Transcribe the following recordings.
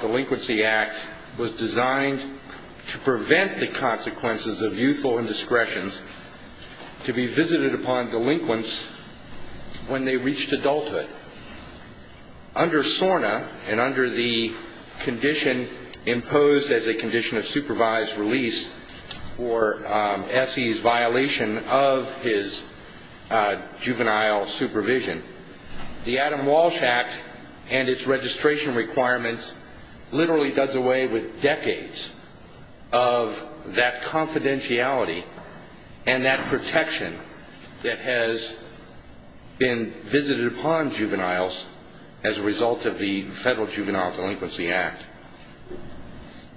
Delinquency Act was designed to prevent the consequences of youthful indiscretions to be visited upon delinquents when they reached adulthood. Under SORNA and under the condition in which youthful indiscretions are to be visited upon delinquents when they reach adulthood, youthful indiscretions are to be visited upon delinquents when they reach adulthood. imposed as a condition of supervised release for SE's violation of his juvenile supervision. The Adam Walsh Act and its registration requirements literally does away with decades of that confidentiality and that protection that has been visited upon juveniles as a result of the Federal Juvenile Delinquency Act.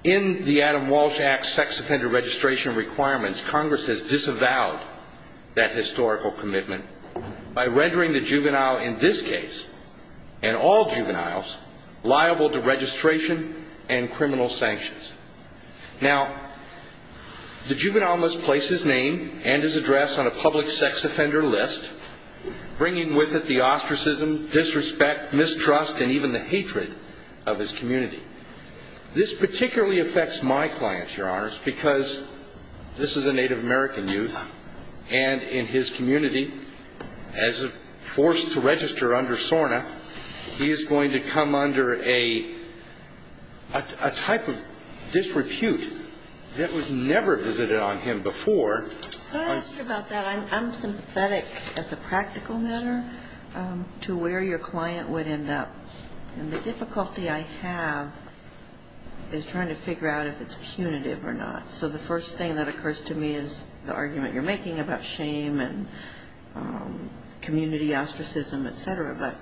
In the Adam Walsh Act sex offender registration requirements, Congress has disavowed that historical commitment by rendering the juvenile in this case, and all juveniles, liable to registration and criminal sanctions. Now, the juvenile must place his name and his address on a public sex offender list, bringing with it the ostracism, disrespect, mistrust, and even the hatred of his community. This particularly affects my clients, Your Honors, because this is a Native American youth, and in his community, as a force to register under SORNA, he is going to come under a type of disrepute that was never visited on him before. I'm sympathetic, as a practical matter, to where your client would end up. And the difficulty I have is trying to figure out if it's punitive or not. So the first thing that occurs to me is the argument you're making about shame and community ostracism, et cetera. But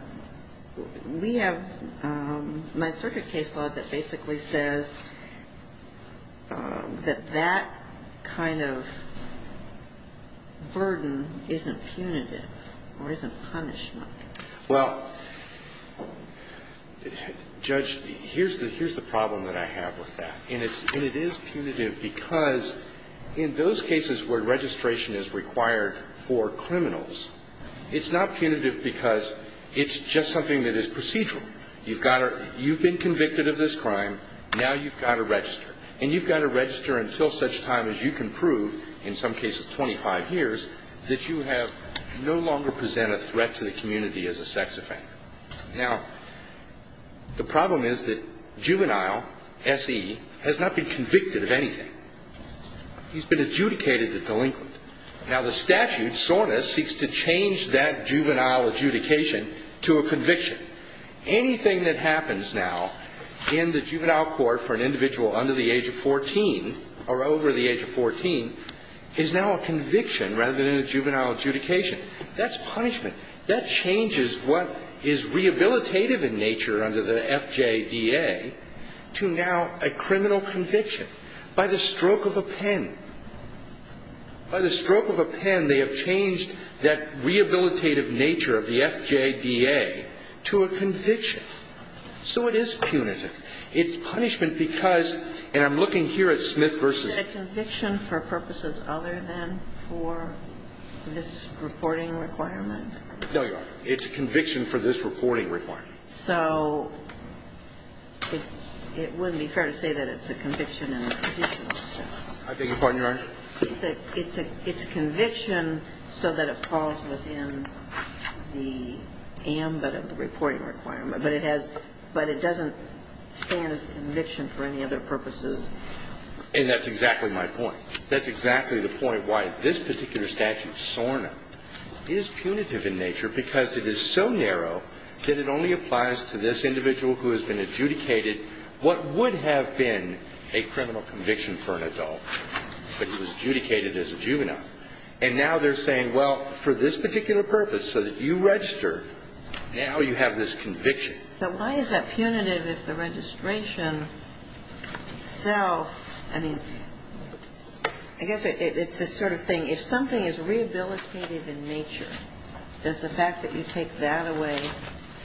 we have Ninth Circuit case law that basically says that that kind of disrespect, disrespect, and burden isn't punitive or isn't punishment. Well, Judge, here's the problem that I have with that. And it is punitive because in those cases where registration is required for criminals, it's not punitive because it's just something that is procedural. You've been convicted of this crime. Now you've got to register. And you've got to register until such time as you can prove, in some cases 25 years, that you no longer present a threat to the community as a sex offender. Now, the problem is that juvenile, S.E., has not been convicted of anything. He's been adjudicated a delinquent. Now, the statute, SORNA, seeks to change that juvenile adjudication to a conviction. Anything that happens now in the juvenile court for an individual under the age of 14 or over the age of 14 is now a conviction rather than a juvenile adjudication. That's punishment. That changes what is rehabilitative in nature under the FJDA to now a criminal conviction by the stroke of a pen. By the stroke of a pen, they have changed that rehabilitative nature of the FJDA to a conviction. So it is punitive. It's punishment because, and I'm looking here at Smith v. Is it a conviction for purposes other than for this reporting requirement? No, Your Honor. It's a conviction for this reporting requirement. So it wouldn't be fair to say that it's a conviction in a judicial sense. I beg your pardon, Your Honor. It's a conviction so that it falls within the ambit of the reporting requirement, but it doesn't stand as a conviction for any other purposes. And that's exactly my point. That's exactly the point why this particular statute, SORNA, is punitive in nature because it is so narrow that it only applies to this individual who has been adjudicated what would have been a criminal conviction for an adult, but he was adjudicated as a juvenile. And now they're saying, well, for this particular purpose, so that you register, now you have this conviction. So why is that punitive if the registration itself, I mean, I guess it's this sort of thing. If something is rehabilitative in nature, does the fact that you take that away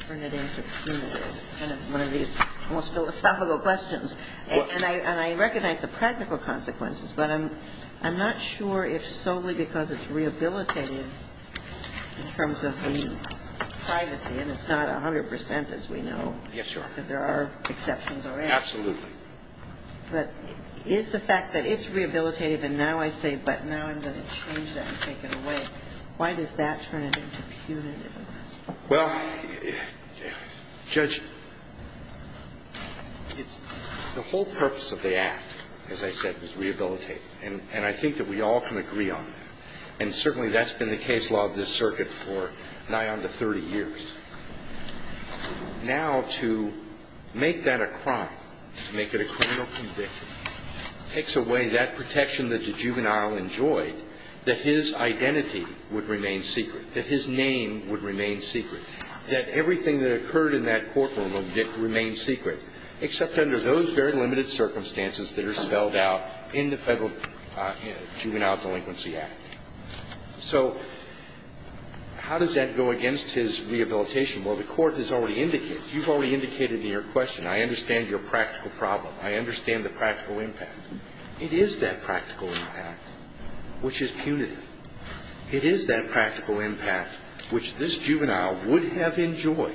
turn it into punitive? Kind of one of these almost philosophical questions. And I recognize the practical consequences, but I'm not sure if solely because it's rehabilitative in terms of the privacy, and it's not 100 percent, as we know, because there are exceptions already. Absolutely. But is the fact that it's rehabilitative, and now I say, but now I'm going to change that and take it away, why does that turn it into punitive? Well, Judge, the whole purpose of the Act, as I said, was rehabilitative. And I think that we all can agree on that. And certainly that's been the case law of this circuit for nigh on to 30 years. Now, to make that a crime, to make it a criminal conviction, takes away that protection that the juvenile enjoyed, that his identity would remain secret, that his name would remain secret, that everything that occurred in that courtroom would remain secret, except under those very limited circumstances that are spelled out in the Federal Juvenile Delinquency Act. So how does that go against his rehabilitation? Well, the Court has already indicated. You've already indicated in your question, I understand your practical problem. I understand the practical impact. It is that practical impact which is punitive. It is that practical impact which this juvenile would have enjoyed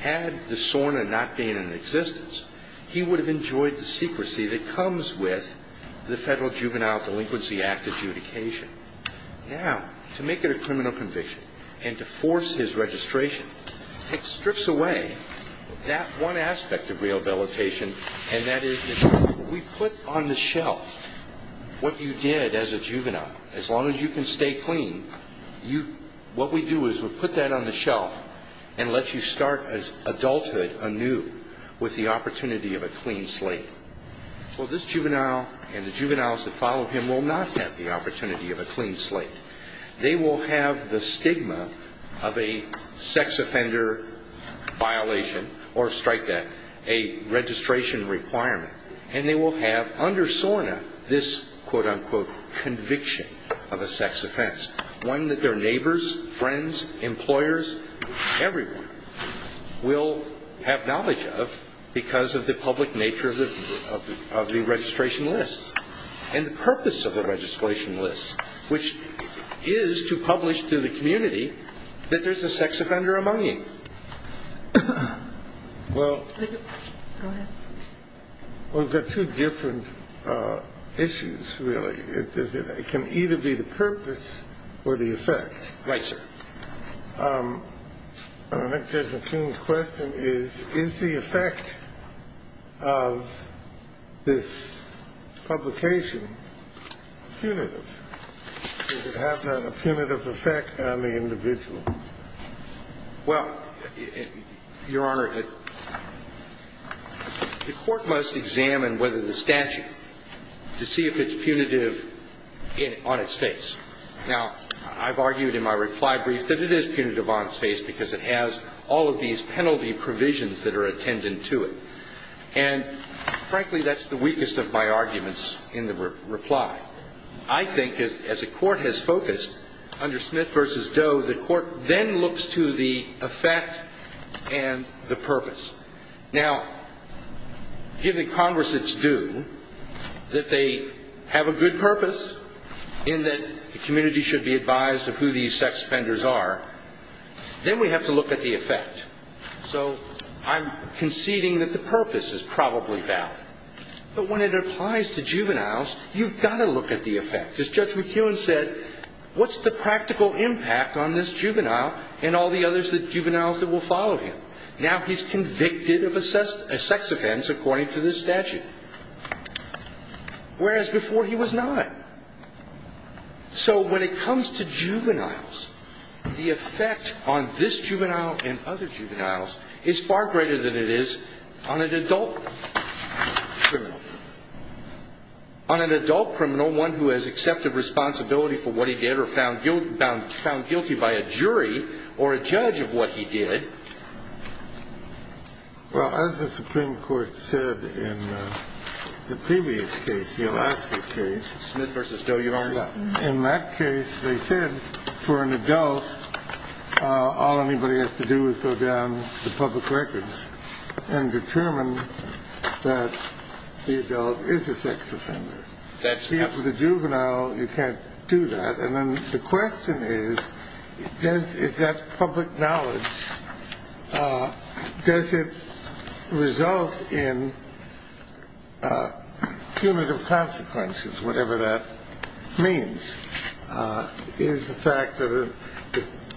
had the SORNA not been in existence, he would have enjoyed the secrecy that comes with the Federal Juvenile Delinquency Act adjudication. Now, to make it a criminal conviction and to force his registration, it strips away that one aspect of rehabilitation, and that is we put on the shelf what you did as a juvenile. As long as you can stay clean, what we do is we put that on the shelf and let you start adulthood anew with the opportunity of a clean slate. Well, this juvenile and the juveniles that follow him will not have the opportunity of a clean slate. They will have the stigma of a sex offender violation or strike that, a registration requirement, and they will have under SORNA this, quote, unquote, conviction of a sex offense, one that their neighbors, friends, employers, everyone will have knowledge of because of the public nature of the registration list and the purpose of the registration list, which is to publish to the community that there's a sex offender among you. Well, we've got two different issues, really. It can either be the purpose or the effect. Right, sir. I think Judge McKeon's question is, is the effect of this publication punitive? Does it have a punitive effect on the individual? Well, Your Honor, the court must examine whether the statute, to see if it's punitive on its face. Now, I've argued in my reply brief that it is punitive on its face because it has all of these penalty provisions that are attendant to it. And, frankly, that's the weakest of my arguments in the reply. I think, as the court has focused under Smith v. Doe, the court then looks to the effect and the purpose. Now, given Congress it's due, that they have a good purpose in that the community should be advised of who these sex offenders are, then we have to look at the effect. So I'm conceding that the purpose is probably valid. But when it applies to juveniles, you've got to look at the effect. As Judge McKeon said, what's the practical impact on this juvenile and all the other juveniles that will follow him? Now he's convicted of a sex offense according to this statute, whereas before he was not. So when it comes to juveniles, the effect on this juvenile and other juveniles is far greater than it is on an adult criminal. On an adult criminal, one who has accepted responsibility for what he did or found guilty by a jury or a judge of what he did. Well, as the Supreme Court said in the previous case, the Alaska case. Smith v. Doe, you are correct. In that case, they said for an adult, all anybody has to do is go down the public records and determine that the adult is a sex offender. That's right. The juvenile, you can't do that. And then the question is, is that public knowledge? Does it result in punitive consequences? Whatever that means. Is the fact that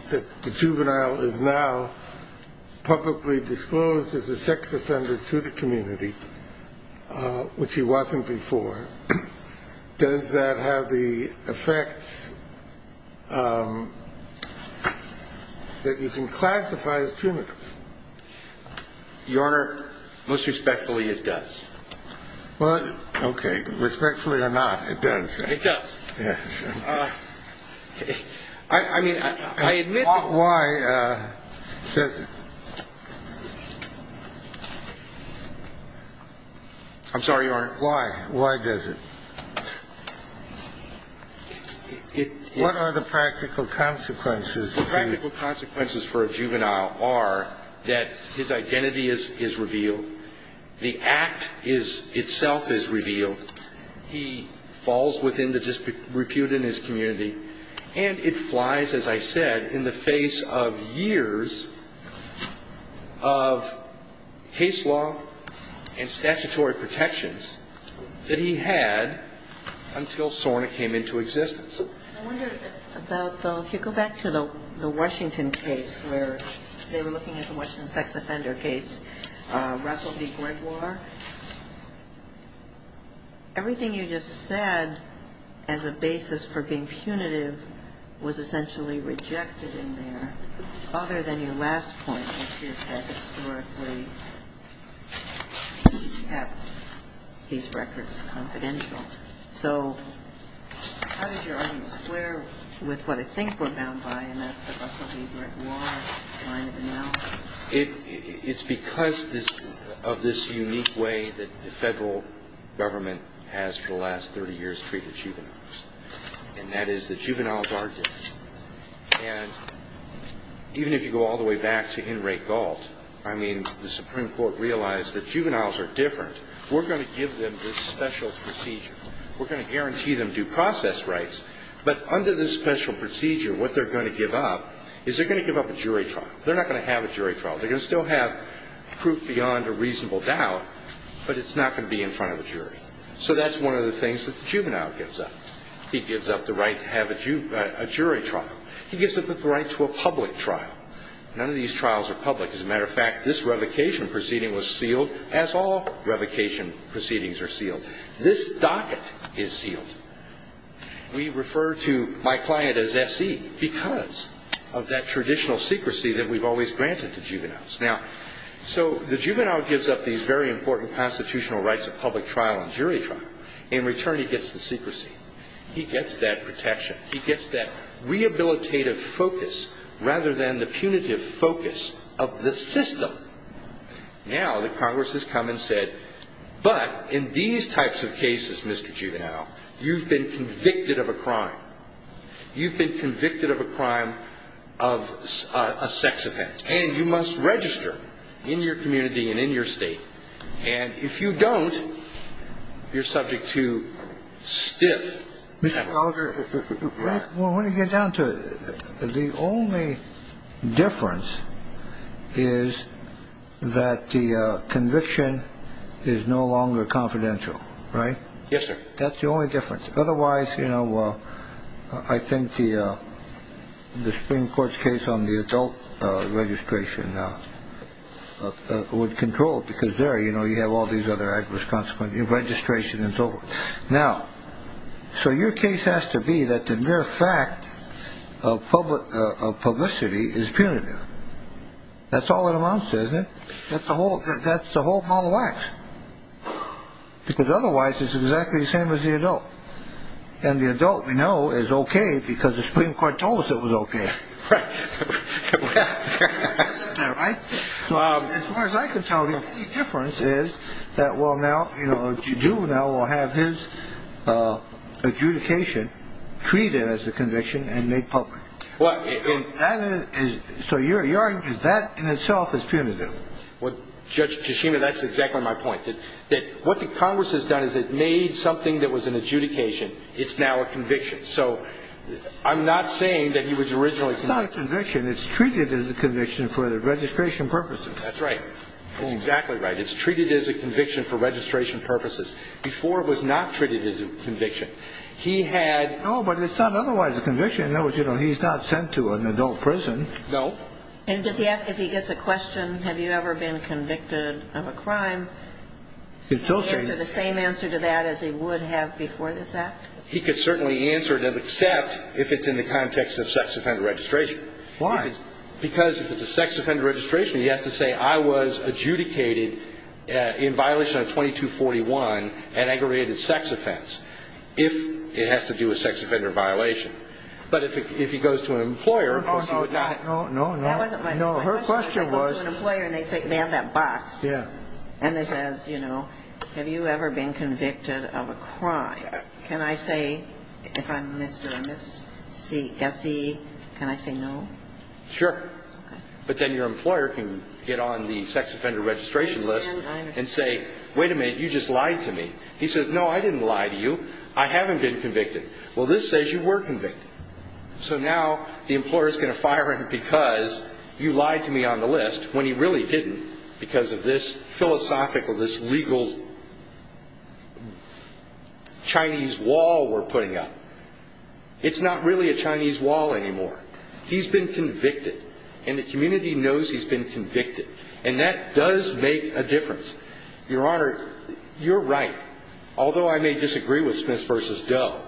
the juvenile is now publicly disclosed as a sex offender to the community, which he wasn't before. Does that have the effects that you can classify as punitive? Your Honor, most respectfully, it does. Okay. Respectfully or not, it does. It does. Yes. I mean, I admit. Why? I'm sorry, Your Honor. Why? Why does it? What are the practical consequences? The practical consequences for a juvenile are that his identity is revealed. The act itself is revealed. He falls within the dispute in his community. And it flies, as I said, in the face of years of case law and statutory protections that he had until SORNA came into existence. I wonder about the, if you go back to the Washington case where they were looking at the Washington sex offender case, Russell v. Brett, and they found that the word punitive was essentially rejected in there, other than your last point, which is that historically he kept these records confidential. So how does your argument square with what I think we're bound by, and that's the Russell v. Brett law line of analysis? It's because of this unique way that the Federal Government has, for the last 30 years, treated juveniles. And that is that juveniles are different. And even if you go all the way back to Henry Gault, I mean, the Supreme Court realized that juveniles are different. We're going to give them this special procedure. We're going to guarantee them due process rights. But under this special procedure, what they're going to give up is they're going to give up a jury trial. They're not going to have a jury trial. They're going to still have proof beyond a reasonable doubt, but it's not going to be in front of a jury. So that's one of the things that the juvenile gives up. He gives up the right to have a jury trial. He gives up the right to a public trial. None of these trials are public. As a matter of fact, this revocation proceeding was sealed, as all revocation proceedings are sealed. This docket is sealed. We refer to my client as S.E. because of that traditional secrecy that we've always granted to juveniles. Now, so the juvenile gives up these very important constitutional rights of public trial and jury trial. In return, he gets the secrecy. He gets that protection. He gets that rehabilitative focus rather than the punitive focus of the system. Now, the Congress has come and said, but in these types of cases, Mr. Juvenile, you've been convicted of a crime. You've been convicted of a crime of a sex offense, and you must register in your community and in your state. And if you don't, you're subject to stiff. When you get down to the only difference is that the conviction is no longer confidential. Right. Yes, sir. That's the only difference. Otherwise, you know, I think the Supreme Court's case on the adult registration would control it because there, you know, you have all these other adverse consequences of registration and so forth. Now, so your case has to be that the mere fact of public publicity is punitive. That's all it amounts to, isn't it? That's the whole, that's the whole ball of wax. Because otherwise, it's exactly the same as the adult. And the adult, we know, is OK because the Supreme Court told us it was OK. Right. So as far as I can tell, the difference is that, well, now, you know, Juvenile will have his adjudication treated as a conviction and make public. Well, that is. So you're you're that in itself is punitive. Well, Judge Kishima, that's exactly my point. That what the Congress has done is it made something that was an adjudication. It's now a conviction. So I'm not saying that he was originally convicted. It's not a conviction. It's treated as a conviction for the registration purposes. That's right. That's exactly right. It's treated as a conviction for registration purposes. Before, it was not treated as a conviction. He had. Oh, but it's not otherwise a conviction. In other words, you know, he's not sent to an adult prison. No. And does he have, if he gets a question, have you ever been convicted of a crime? He'd answer the same answer to that as he would have before this Act. He could certainly answer it, except if it's in the context of sex offender registration. Why? Because if it's a sex offender registration, he has to say I was adjudicated in violation of 2241, an aggravated sex offense, if it has to do with sex offender violation. But if he goes to an employer, of course he would not. No, no, no. That wasn't my question. No, her question was. He goes to an employer and they have that box. Yeah. And it says, you know, have you ever been convicted of a crime? Can I say, if I'm Mr. and Mrs. Essie, can I say no? Sure. Okay. But then your employer can get on the sex offender registration list and say, wait a minute, you just lied to me. He says, no, I didn't lie to you. I haven't been convicted. Well, this says you were convicted. So now the employer is going to fire him because you lied to me on the list when he really didn't because of this philosophical, this legal Chinese wall we're putting up. It's not really a Chinese wall anymore. He's been convicted. And the community knows he's been convicted. And that does make a difference. Your Honor, you're right. Although I may disagree with Smiths v. Doe,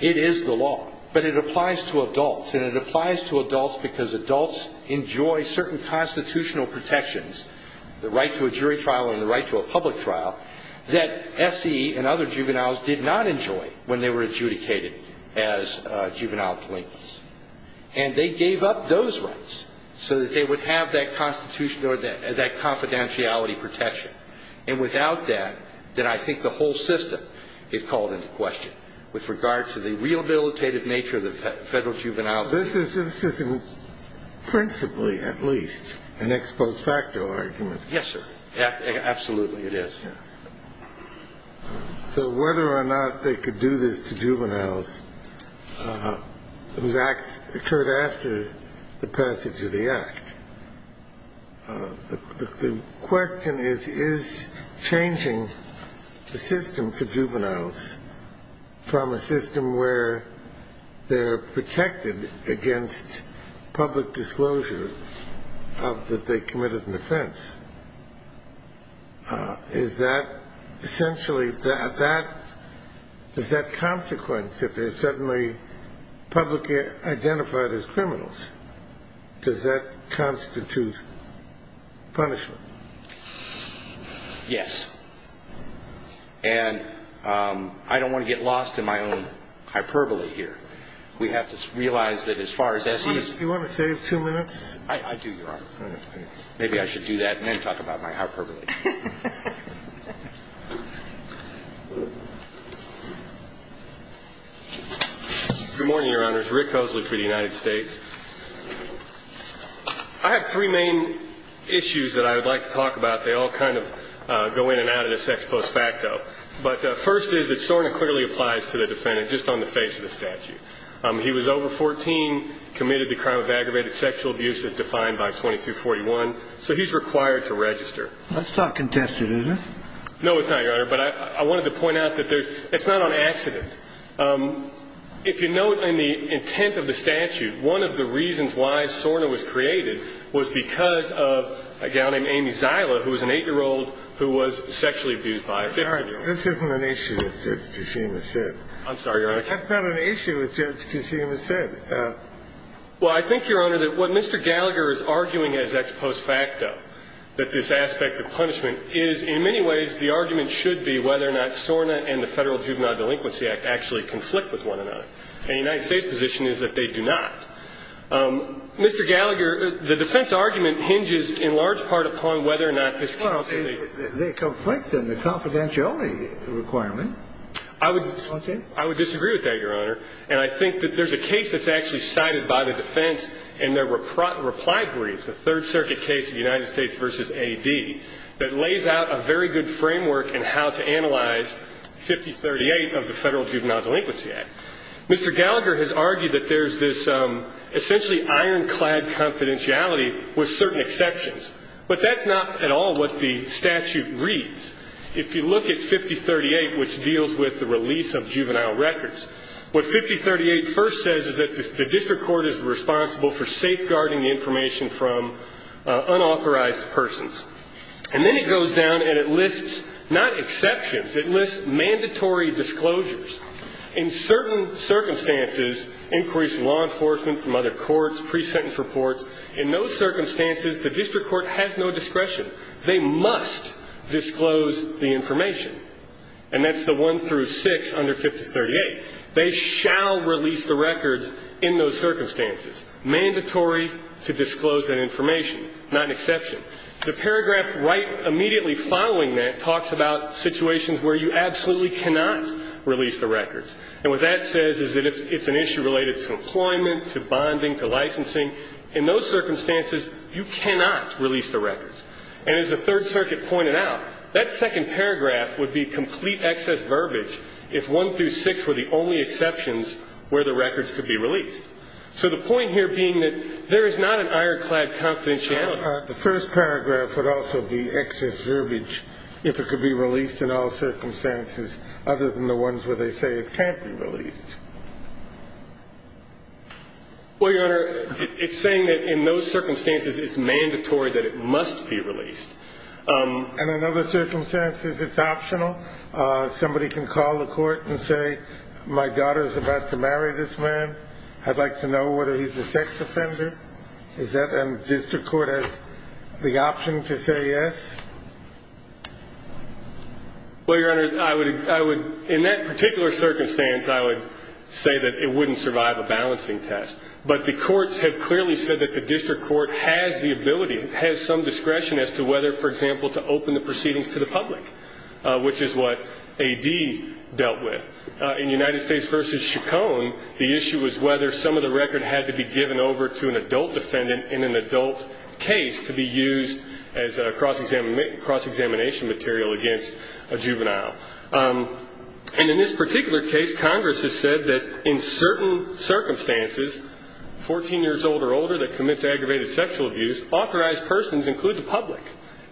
it is the law. But it applies to adults. And it applies to adults because adults enjoy certain constitutional protections, the right to a jury trial and the right to a public trial, that Essie and other juveniles did not enjoy when they were adjudicated as juvenile delinquents. And they gave up those rights so that they would have that confidentiality protection. And without that, then I think the whole system is called into question with regard to the rehabilitative nature of the federal juvenile. This is principally, at least, an ex post facto argument. Yes, sir. Absolutely it is. Yes. So whether or not they could do this to juveniles, those acts occurred after the passage of the Act. The question is, is changing the system for juveniles from a system where they're protected against public disclosure of that they committed an offense, is that essentially, is that consequence that they're suddenly publicly identified as criminals? Does that constitute punishment? Yes. And I don't want to get lost in my own hyperbole here. We have to realize that as far as Essie is concerned. Do you want to save two minutes? I do, Your Honor. Maybe I should do that and then talk about my hyperbole. Good morning, Your Honors. Rick Hosler for the United States. I have three main issues that I would like to talk about. They all kind of go in and out of this ex post facto. But the first is that SORNA clearly applies to the defendant just on the face of the statute. He was over 14, committed the crime of aggravated sexual abuse as defined by 2241. So he's required to register. That's not contested, is it? No, it's not, Your Honor. But I wanted to point out that it's not on accident. If you note in the intent of the statute, one of the reasons why SORNA was created was because of a gal named Amy Zila, who was an 8-year-old who was sexually abused by a 15-year-old. This isn't an issue, as Judge Cusim has said. I'm sorry, Your Honor. That's not an issue, as Judge Cusim has said. Well, I think, Your Honor, that what Mr. Gallagher is arguing as ex post facto, that this aspect of punishment is, in many ways, the argument should be whether or not SORNA and the Federal Juvenile Delinquency Act actually conflict with one another. And the United States' position is that they do not. Mr. Gallagher, the defense argument hinges in large part upon whether or not this counts as a... Well, they conflict in the confidentiality requirement. I would... Okay. I would disagree with that, Your Honor. And I think that there's a case that's actually cited by the defense in their reply brief, the Third Circuit case of United States v. A.D., that lays out a very good framework in how to analyze 5038 of the Federal Juvenile Delinquency Act. Mr. Gallagher has argued that there's this essentially ironclad confidentiality with certain exceptions. But that's not at all what the statute reads. If you look at 5038, which deals with the release of juvenile records, what 5038 first says is that the district court is responsible for safeguarding the information from unauthorized persons. And then it goes down and it lists not exceptions. It lists mandatory disclosures. In certain circumstances, increased law enforcement from other courts, pre-sentence reports, in those circumstances, the district court has no discretion. They must disclose the information. And that's the 1 through 6 under 5038. They shall release the records in those circumstances. Mandatory to disclose that information, not an exception. The paragraph right immediately following that talks about situations where you absolutely cannot release the records. And what that says is that it's an issue related to employment, to bonding, to licensing. In those circumstances, you cannot release the records. And as the Third Circuit pointed out, that second paragraph would be complete excess verbiage if 1 through 6 were the only exceptions where the records could be released. So the point here being that there is not an ironclad confidentiality. The first paragraph would also be excess verbiage if it could be released in all circumstances other than the ones where they say it can't be released. Well, Your Honor, it's saying that in those circumstances, it's mandatory that it must be released. And in other circumstances, it's optional? Somebody can call the court and say, my daughter is about to marry this man. I'd like to know whether he's a sex offender. Is that the district court has the option to say yes? Well, Your Honor, I would, in that particular circumstance, I would say that it wouldn't survive a balancing test. But the courts have clearly said that the district court has the ability, has some discretion as to whether, for example, to open the proceedings to the public, which is what A.D. dealt with. In United States v. Chacon, the issue was whether some of the record had to be given over to an adult defendant in an adult case to be used as a cross-examination material against a juvenile. And in this particular case, Congress has said that in certain circumstances, 14 years old or older that commits aggravated sexual abuse, authorized persons include the public.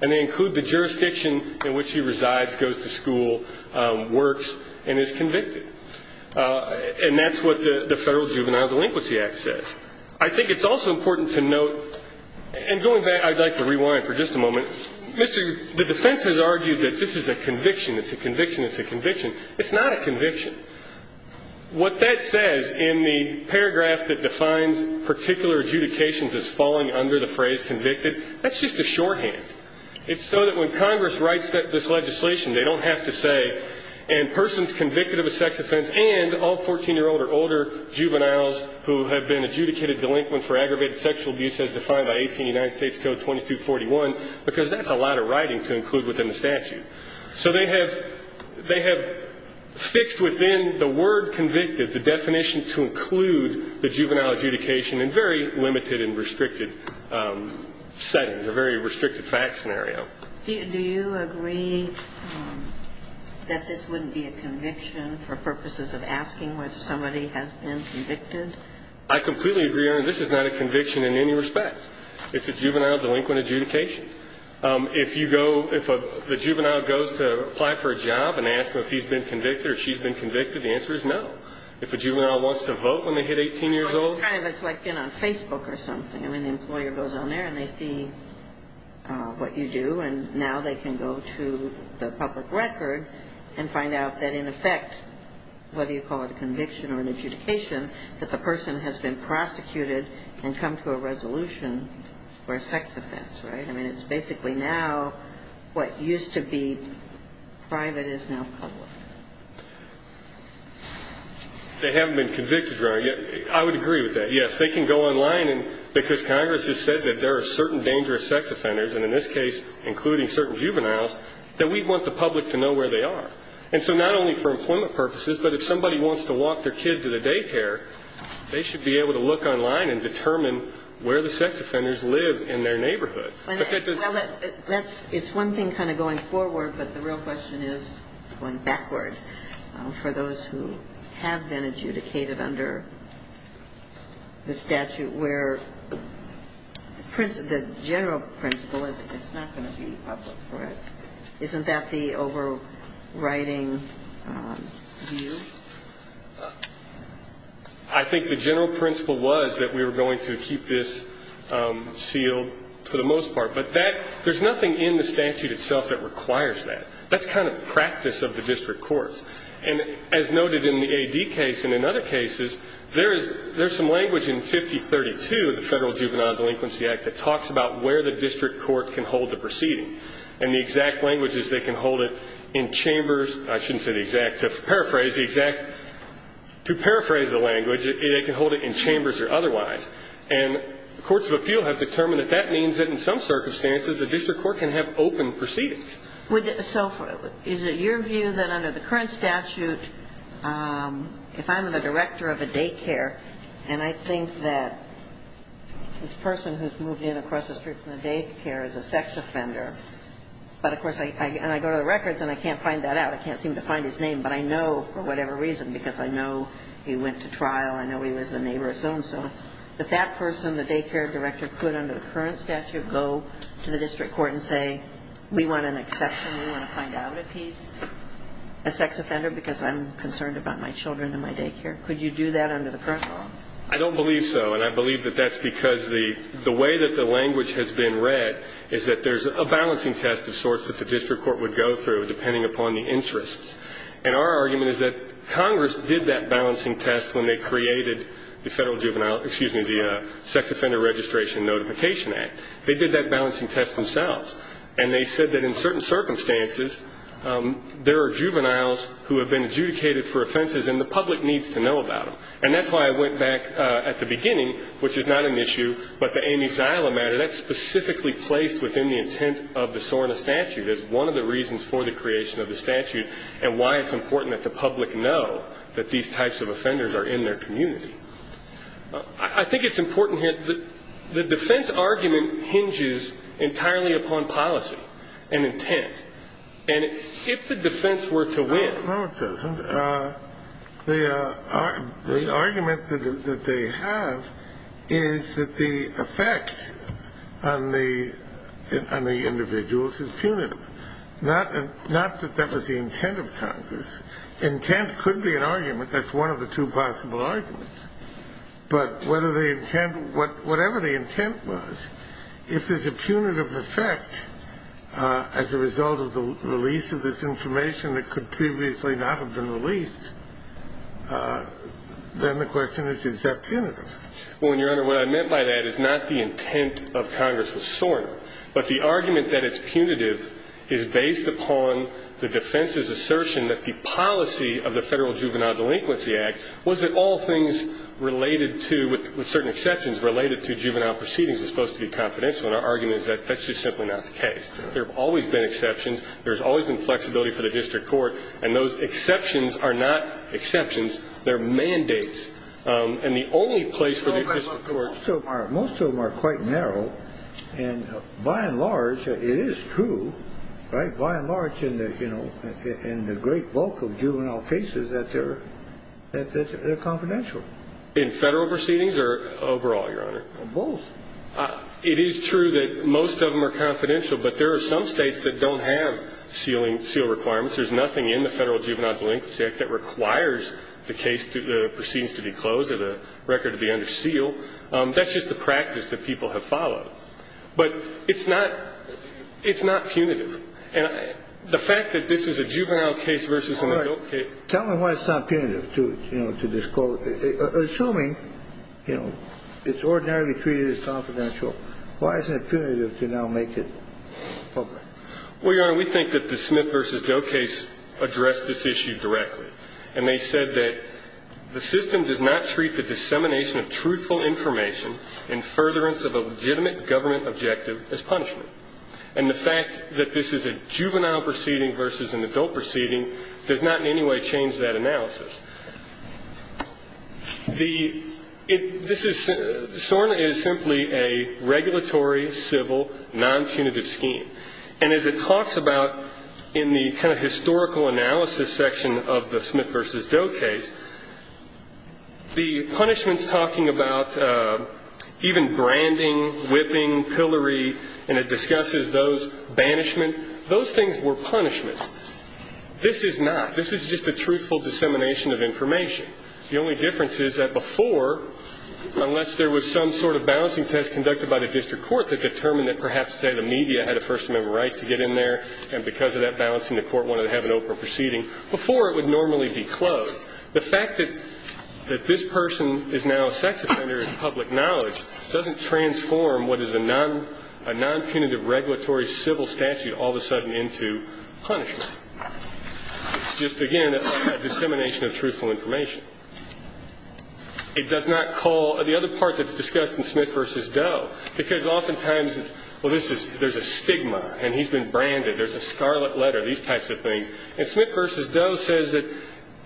And they include the jurisdiction in which he resides, goes to school, works, and is convicted. And that's what the Federal Juvenile Delinquency Act says. I think it's also important to note, and going back, I'd like to rewind for just a moment. The defense has argued that this is a conviction, it's a conviction, it's a conviction. It's not a conviction. What that says in the paragraph that defines particular adjudications as falling under the phrase convicted, that's just a shorthand. It's so that when Congress writes this legislation, they don't have to say, and persons convicted of a sex offense and all 14-year-old or older juveniles who have been adjudicated delinquent for aggravated sexual abuse as defined by 18 United States Code 2241, because that's a lot of writing to include within the statute. So they have fixed within the word convicted the definition to include the juvenile adjudication in very limited and restricted settings, a very restricted fact scenario. Do you agree that this wouldn't be a conviction for purposes of asking whether somebody has been convicted? I completely agree, Your Honor. This is not a conviction in any respect. It's a juvenile delinquent adjudication. If you go, if the juvenile goes to apply for a job and asks if he's been convicted or she's been convicted, the answer is no. If a juvenile wants to vote when they hit 18 years old. It's kind of like, you know, Facebook or something. I mean, the employer goes on there and they see what you do, and now they can go to the public record and find out that in effect, whether you call it a conviction or an adjudication, that the juvenile has been convicted or not. I mean, it's basically now what used to be private is now public. They haven't been convicted, Your Honor. I would agree with that. Yes, they can go online, because Congress has said that there are certain dangerous sex offenders, and in this case, including certain juveniles, that we want the public to know where they are. And so not only for employment purposes, but if somebody wants to walk their kid to the daycare, they should be able to look online and determine where the sex offenders live in their neighborhood. Well, it's one thing kind of going forward, but the real question is going backward. For those who have been adjudicated under the statute where the general principle is that it's not going to be public. Isn't that the overriding view? I think the general principle was that we were going to keep this sealed for the most part. But there's nothing in the statute itself that requires that. That's kind of practice of the district courts. And as noted in the AD case and in other cases, there's some language in 5032 of the Federal Juvenile Delinquency Act that talks about where the district court can hold the proceeding. And the exact language is they can hold it in chambers. I shouldn't say the exact. To paraphrase the language, they can hold it in chambers or otherwise. And courts of appeal have determined that that means that in some circumstances, the district court can have open proceedings. So is it your view that under the current statute, if I'm the director of a daycare, and I think that this person who's moved in across the street from the daycare is a sex offender, but, of course, and I go to the records and I can't find that out. I can't seem to find his name. But I know for whatever reason, because I know he went to trial, I know he was the neighbor of so-and-so, that that person, the daycare director, could, under the current statute, go to the district court and say, we want an exception, we want to find out if he's a sex offender, because I'm concerned about my children and my daycare. Could you do that under the current law? I don't believe so. And I believe that that's because the way that the language has been read is that there's a balancing test of sorts that the district court would go through, depending upon the interests. And our argument is that Congress did that balancing test when they created the federal juvenile, excuse me, the Sex Offender Registration Notification Act. They did that balancing test themselves. And they said that in certain circumstances, there are juveniles who have been adjudicated for offenses and the public needs to know about them. And that's why I went back at the beginning, which is not an issue, but the Amy Ziala matter, that's specifically placed within the intent of the SORNA statute as one of the reasons for the creation of the statute and why it's important that the public know that these types of offenders are in their community. I think it's important here, the defense argument hinges entirely upon policy and intent. And if the defense were to win. No, it doesn't. The argument that they have is that the effect on the individuals is punitive. Not that that was the intent of Congress. Intent could be an argument. That's one of the two possible arguments. But whatever the intent was, if there's a punitive effect as a result of the release of this information that could previously not have been released, then the question is, is that punitive? Well, Your Honor, what I meant by that is not the intent of Congress with SORNA, but the argument that it's punitive is based upon the defense's assertion that the policy of the Federal Juvenile Delinquency Act was that all things related to, with certain exceptions, related to juvenile proceedings was supposed to be confidential. And our argument is that that's just simply not the case. There have always been exceptions. There's always been flexibility for the district court. And those exceptions are not exceptions. They're mandates. And the only place for the district court. And by and large, it is true, right? In the great bulk of juvenile cases, that they're confidential. In Federal proceedings or overall, Your Honor? Both. It is true that most of them are confidential. But there are some states that don't have seal requirements. There's nothing in the Federal Juvenile Delinquency Act that requires the case, the proceedings to be closed or the record to be under seal. That's just the practice that people have followed. But it's not punitive. And the fact that this is a juvenile case versus an adult case. All right. Tell me why it's not punitive to, you know, to this court. Assuming, you know, it's ordinarily treated as confidential, why isn't it punitive to now make it public? Well, Your Honor, we think that the Smith v. Doe case addressed this issue directly. And they said that the system does not treat the dissemination of truthful information and furtherance of a legitimate government objective as punishment. And the fact that this is a juvenile proceeding versus an adult proceeding does not in any way change that analysis. SORNA is simply a regulatory, civil, non-punitive scheme. And as it talks about in the kind of historical analysis section of the Smith v. Doe case, the punishment's talking about even branding, whipping, pillory, and it discusses those, banishment. Those things were punishment. This is not. This is just a truthful dissemination of information. The only difference is that before, unless there was some sort of balancing test conducted by the district court that determined that perhaps, say, the media had a First Amendment right to get in there, and because of that balancing the court wanted to have an open proceeding, before it would normally be closed. The fact that this person is now a sex offender in public knowledge doesn't transform what is a non-punitive regulatory civil statute all of a sudden into punishment. It's just, again, a dissemination of truthful information. The other part that's discussed in Smith v. Doe, because oftentimes there's a stigma and he's been branded, there's a scarlet letter, these types of things, and Smith v. Doe says that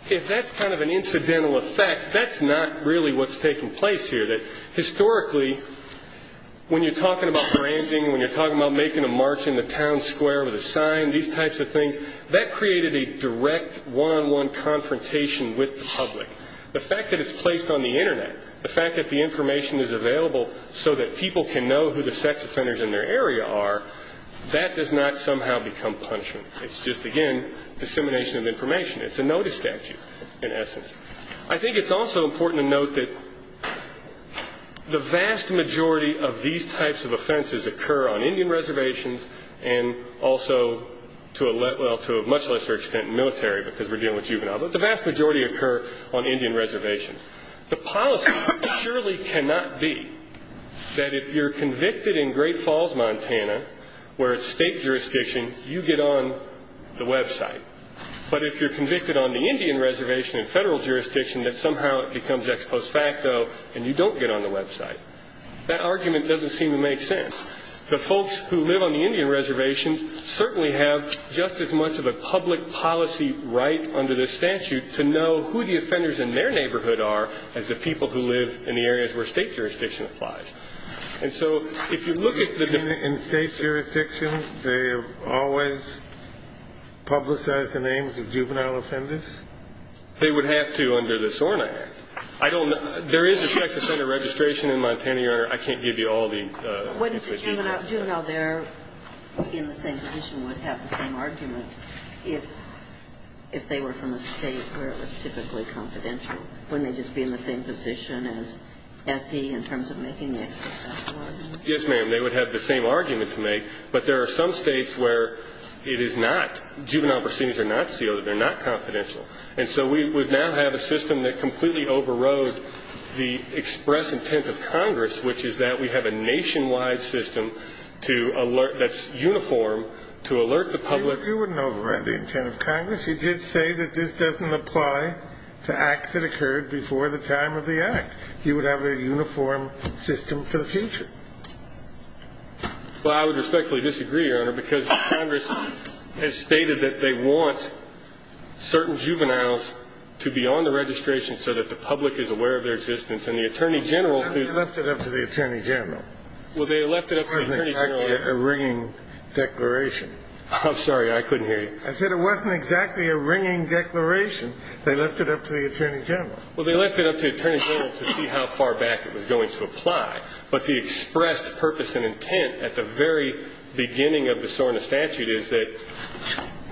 if that's kind of an incidental effect, that's not really what's taking place here. Historically, when you're talking about branding, when you're talking about making a march in the town square with a sign, these types of things, that created a direct one-on-one confrontation with the public. The fact that it's placed on the Internet, the fact that the information is available so that people can know who the sex offenders in their area are, that does not somehow become punishment. It's just, again, dissemination of information. It's a notice statute, in essence. I think it's also important to note that the vast majority of these types of offenses occur on Indian reservations and also to a much lesser extent in military because we're dealing with juvenile. But the vast majority occur on Indian reservations. The policy surely cannot be that if you're convicted in Great Falls, Montana, where it's state jurisdiction, you get on the website. But if you're convicted on the Indian reservation in federal jurisdiction, that somehow it becomes ex post facto and you don't get on the website. That argument doesn't seem to make sense. The folks who live on the Indian reservations certainly have just as much of a public policy right under this statute to know who the offenders in their neighborhood are as the people who live in the areas where state jurisdiction applies. And so if you look at the different states' jurisdictions, they have always publicized the names of juvenile offenders? They would have to under the SORNA Act. There is a sex offender registration in Montana, Your Honor. I can't give you all the details. Wouldn't the juvenile there in the same position would have the same argument if they were from a state where it was typically confidential? Wouldn't they just be in the same position as SE in terms of making the ex post facto argument? Yes, ma'am. They would have the same argument to make. But there are some states where it is not. Juvenile proceedings are not sealed. They're not confidential. And so we would now have a system that completely overrode the express intent of Congress, which is that we have a nationwide system that's uniform to alert the public. You wouldn't override the intent of Congress. You did say that this doesn't apply to acts that occurred before the time of the act. You would have a uniform system for the future. Well, I would respectfully disagree, Your Honor, because Congress has stated that they want certain juveniles to be on the registration so that the public is aware of their existence. And the Attorney General. They left it up to the Attorney General. Well, they left it up to the Attorney General. It wasn't exactly a ringing declaration. I'm sorry. I couldn't hear you. I said it wasn't exactly a ringing declaration. They left it up to the Attorney General. Well, they left it up to the Attorney General to see how far back it was going to apply. But the expressed purpose and intent at the very beginning of the SORNA statute is that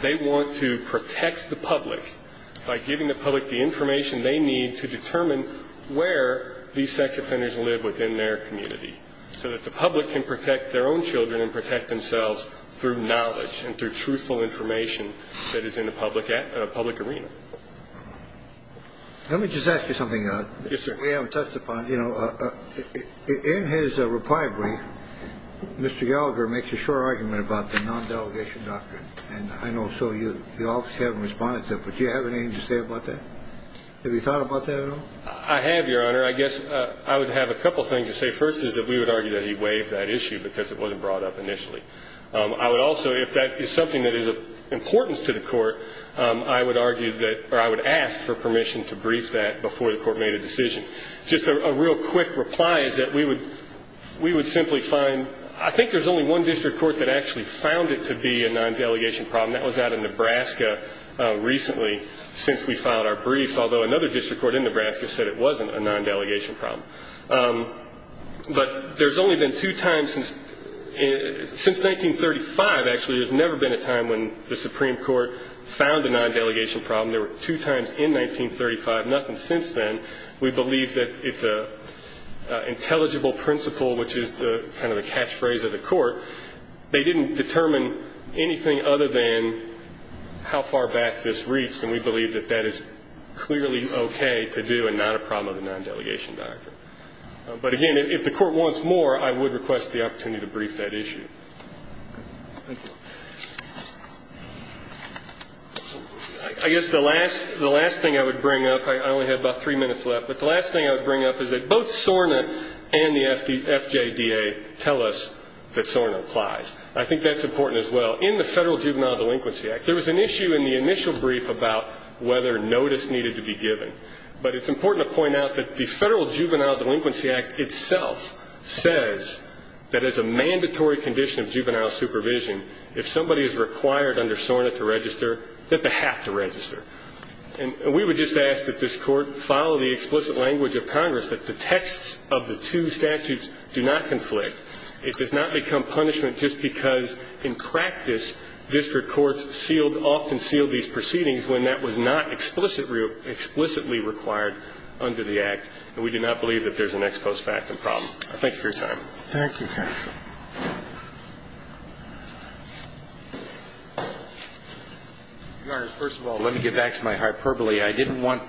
they want to protect the public by giving the public the information they need to determine where these sex offenders live within their community so that the public can protect their own children and protect themselves through knowledge and through truthful information that is in the public arena. Let me just ask you something. Yes, sir. We haven't touched upon it. You know, in his reply brief, Mr. Gallagher makes a short argument about the non-delegation doctrine. And I know so you obviously haven't responded to it. But do you have anything to say about that? Have you thought about that at all? I have, Your Honor. I guess I would have a couple things to say. The first is that we would argue that he waived that issue because it wasn't brought up initially. I would also, if that is something that is of importance to the court, I would argue that or I would ask for permission to brief that before the court made a decision. Just a real quick reply is that we would simply find, I think there's only one district court that actually found it to be a non-delegation problem. That was out of Nebraska recently since we filed our briefs, although another district court in Nebraska said it wasn't a non-delegation problem. But there's only been two times since 1935, actually, there's never been a time when the Supreme Court found a non-delegation problem. There were two times in 1935, nothing since then. We believe that it's an intelligible principle, which is kind of the catchphrase of the court. They didn't determine anything other than how far back this reached, and we believe that that is clearly okay to do and not a problem of the non-delegation doctrine. But again, if the court wants more, I would request the opportunity to brief that issue. I guess the last thing I would bring up, I only have about three minutes left, but the last thing I would bring up is that both SORNA and the FJDA tell us that SORNA applies. I think that's important as well. In the Federal Juvenile Delinquency Act, there was an issue in the initial brief about whether notice needed to be given. But it's important to point out that the Federal Juvenile Delinquency Act itself says that as a mandatory condition of juvenile supervision, if somebody is required under SORNA to register, that they have to register. And we would just ask that this court follow the explicit language of Congress, that the texts of the two statutes do not conflict. It does not become punishment just because, in practice, district courts often sealed these proceedings when that was not explicitly required under the Act, and we do not believe that there's an ex post facto problem. Thank you for your time. Thank you, counsel. Your Honor, first of all, let me get back to my hyperbole. I didn't want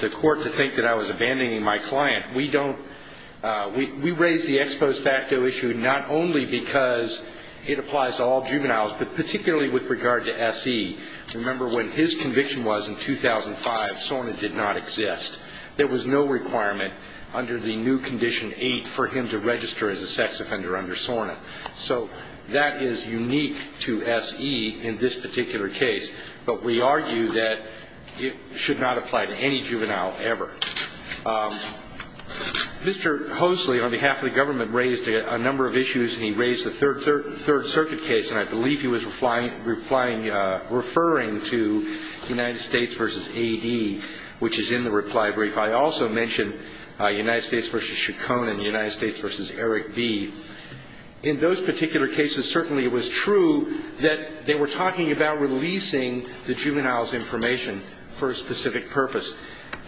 the court to think that I was abandoning my client. We raised the ex post facto issue not only because it applies to all juveniles, but particularly with regard to S.E. Remember, when his conviction was in 2005, SORNA did not exist. There was no requirement under the new Condition 8 for him to register as a sex offender under SORNA. So that is unique to S.E. in this particular case. But we argue that it should not apply to any juvenile ever. Mr. Hosley, on behalf of the government, raised a number of issues, and he raised the Third Circuit case, and I believe he was referring to United States v. A.D., which is in the reply brief. I also mentioned United States v. Chacon and United States v. Eric B. In those particular cases, certainly it was true that they were talking about releasing the juvenile's information for a specific purpose.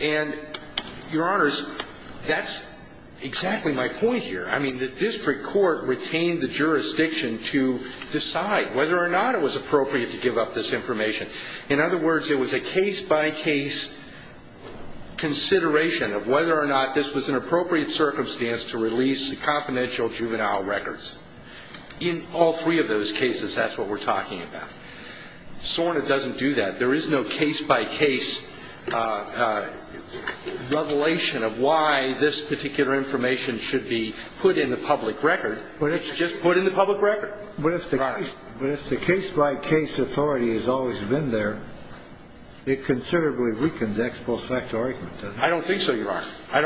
And, Your Honors, that's exactly my point here. I mean, the district court retained the jurisdiction to decide whether or not it was appropriate to give up this information. In other words, it was a case-by-case consideration of whether or not this was an appropriate circumstance to release the confidential juvenile records. In all three of those cases, that's what we're talking about. SORNA doesn't do that. There is no case-by-case revelation of why this particular information should be put in the public record. It's just put in the public record. But if the case-by-case authority has always been there, it considerably weakens the ex post facto argument, doesn't it? I don't think so, Your Honor. I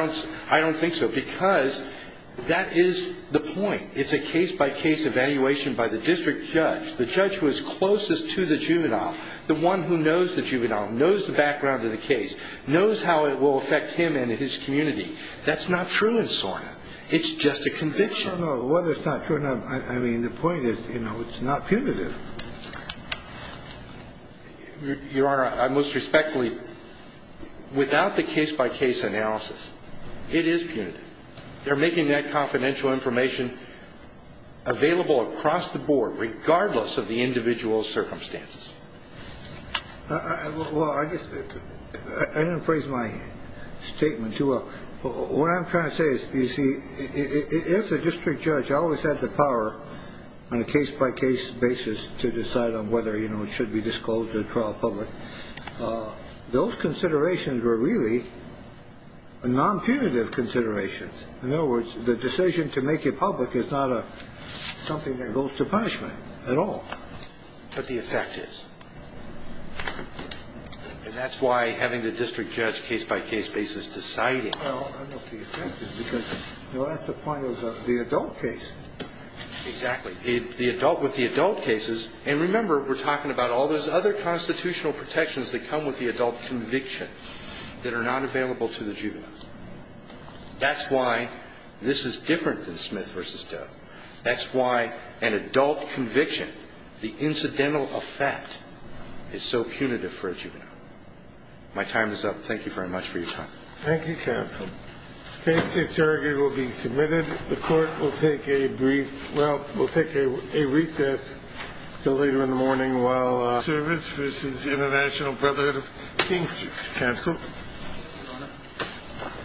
don't think so, because that is the point. It's a case-by-case evaluation by the district judge, the judge who is closest to the juvenile, the one who knows the juvenile, knows the background of the case, knows how it will affect him and his community. That's not true in SORNA. It's just a conviction. No, no, no. Whether it's not true or not, I mean, the point is, you know, it's not punitive. Your Honor, I most respectfully, without the case-by-case analysis, it is punitive. They're making that confidential information available across the board, regardless of the individual's circumstances. Well, I didn't phrase my statement too well. What I'm trying to say is, you see, if the district judge always had the power on a case-by-case basis to decide on whether, you know, it should be disclosed to the trial public, those considerations were really non-punitive considerations. In other words, the decision to make it public is not something that goes to punishment at all. But the effect is. And that's why having the district judge case-by-case basis deciding. Well, I don't know if the effect is, because, you know, that's the point of the adult case. Exactly. The adult with the adult cases, and remember, we're talking about all those other constitutional protections that come with the adult conviction that are not available to the juvenile. That's why this is different than Smith v. Doe. That's why an adult conviction, the incidental effect, is so punitive for a juvenile. My time is up. Thank you very much for your time. Thank you, counsel. The case-by-case argument will be submitted. The court will take a brief, well, we'll take a recess until later in the morning while service v. International Brotherhood of Kings is canceled. Your Honor.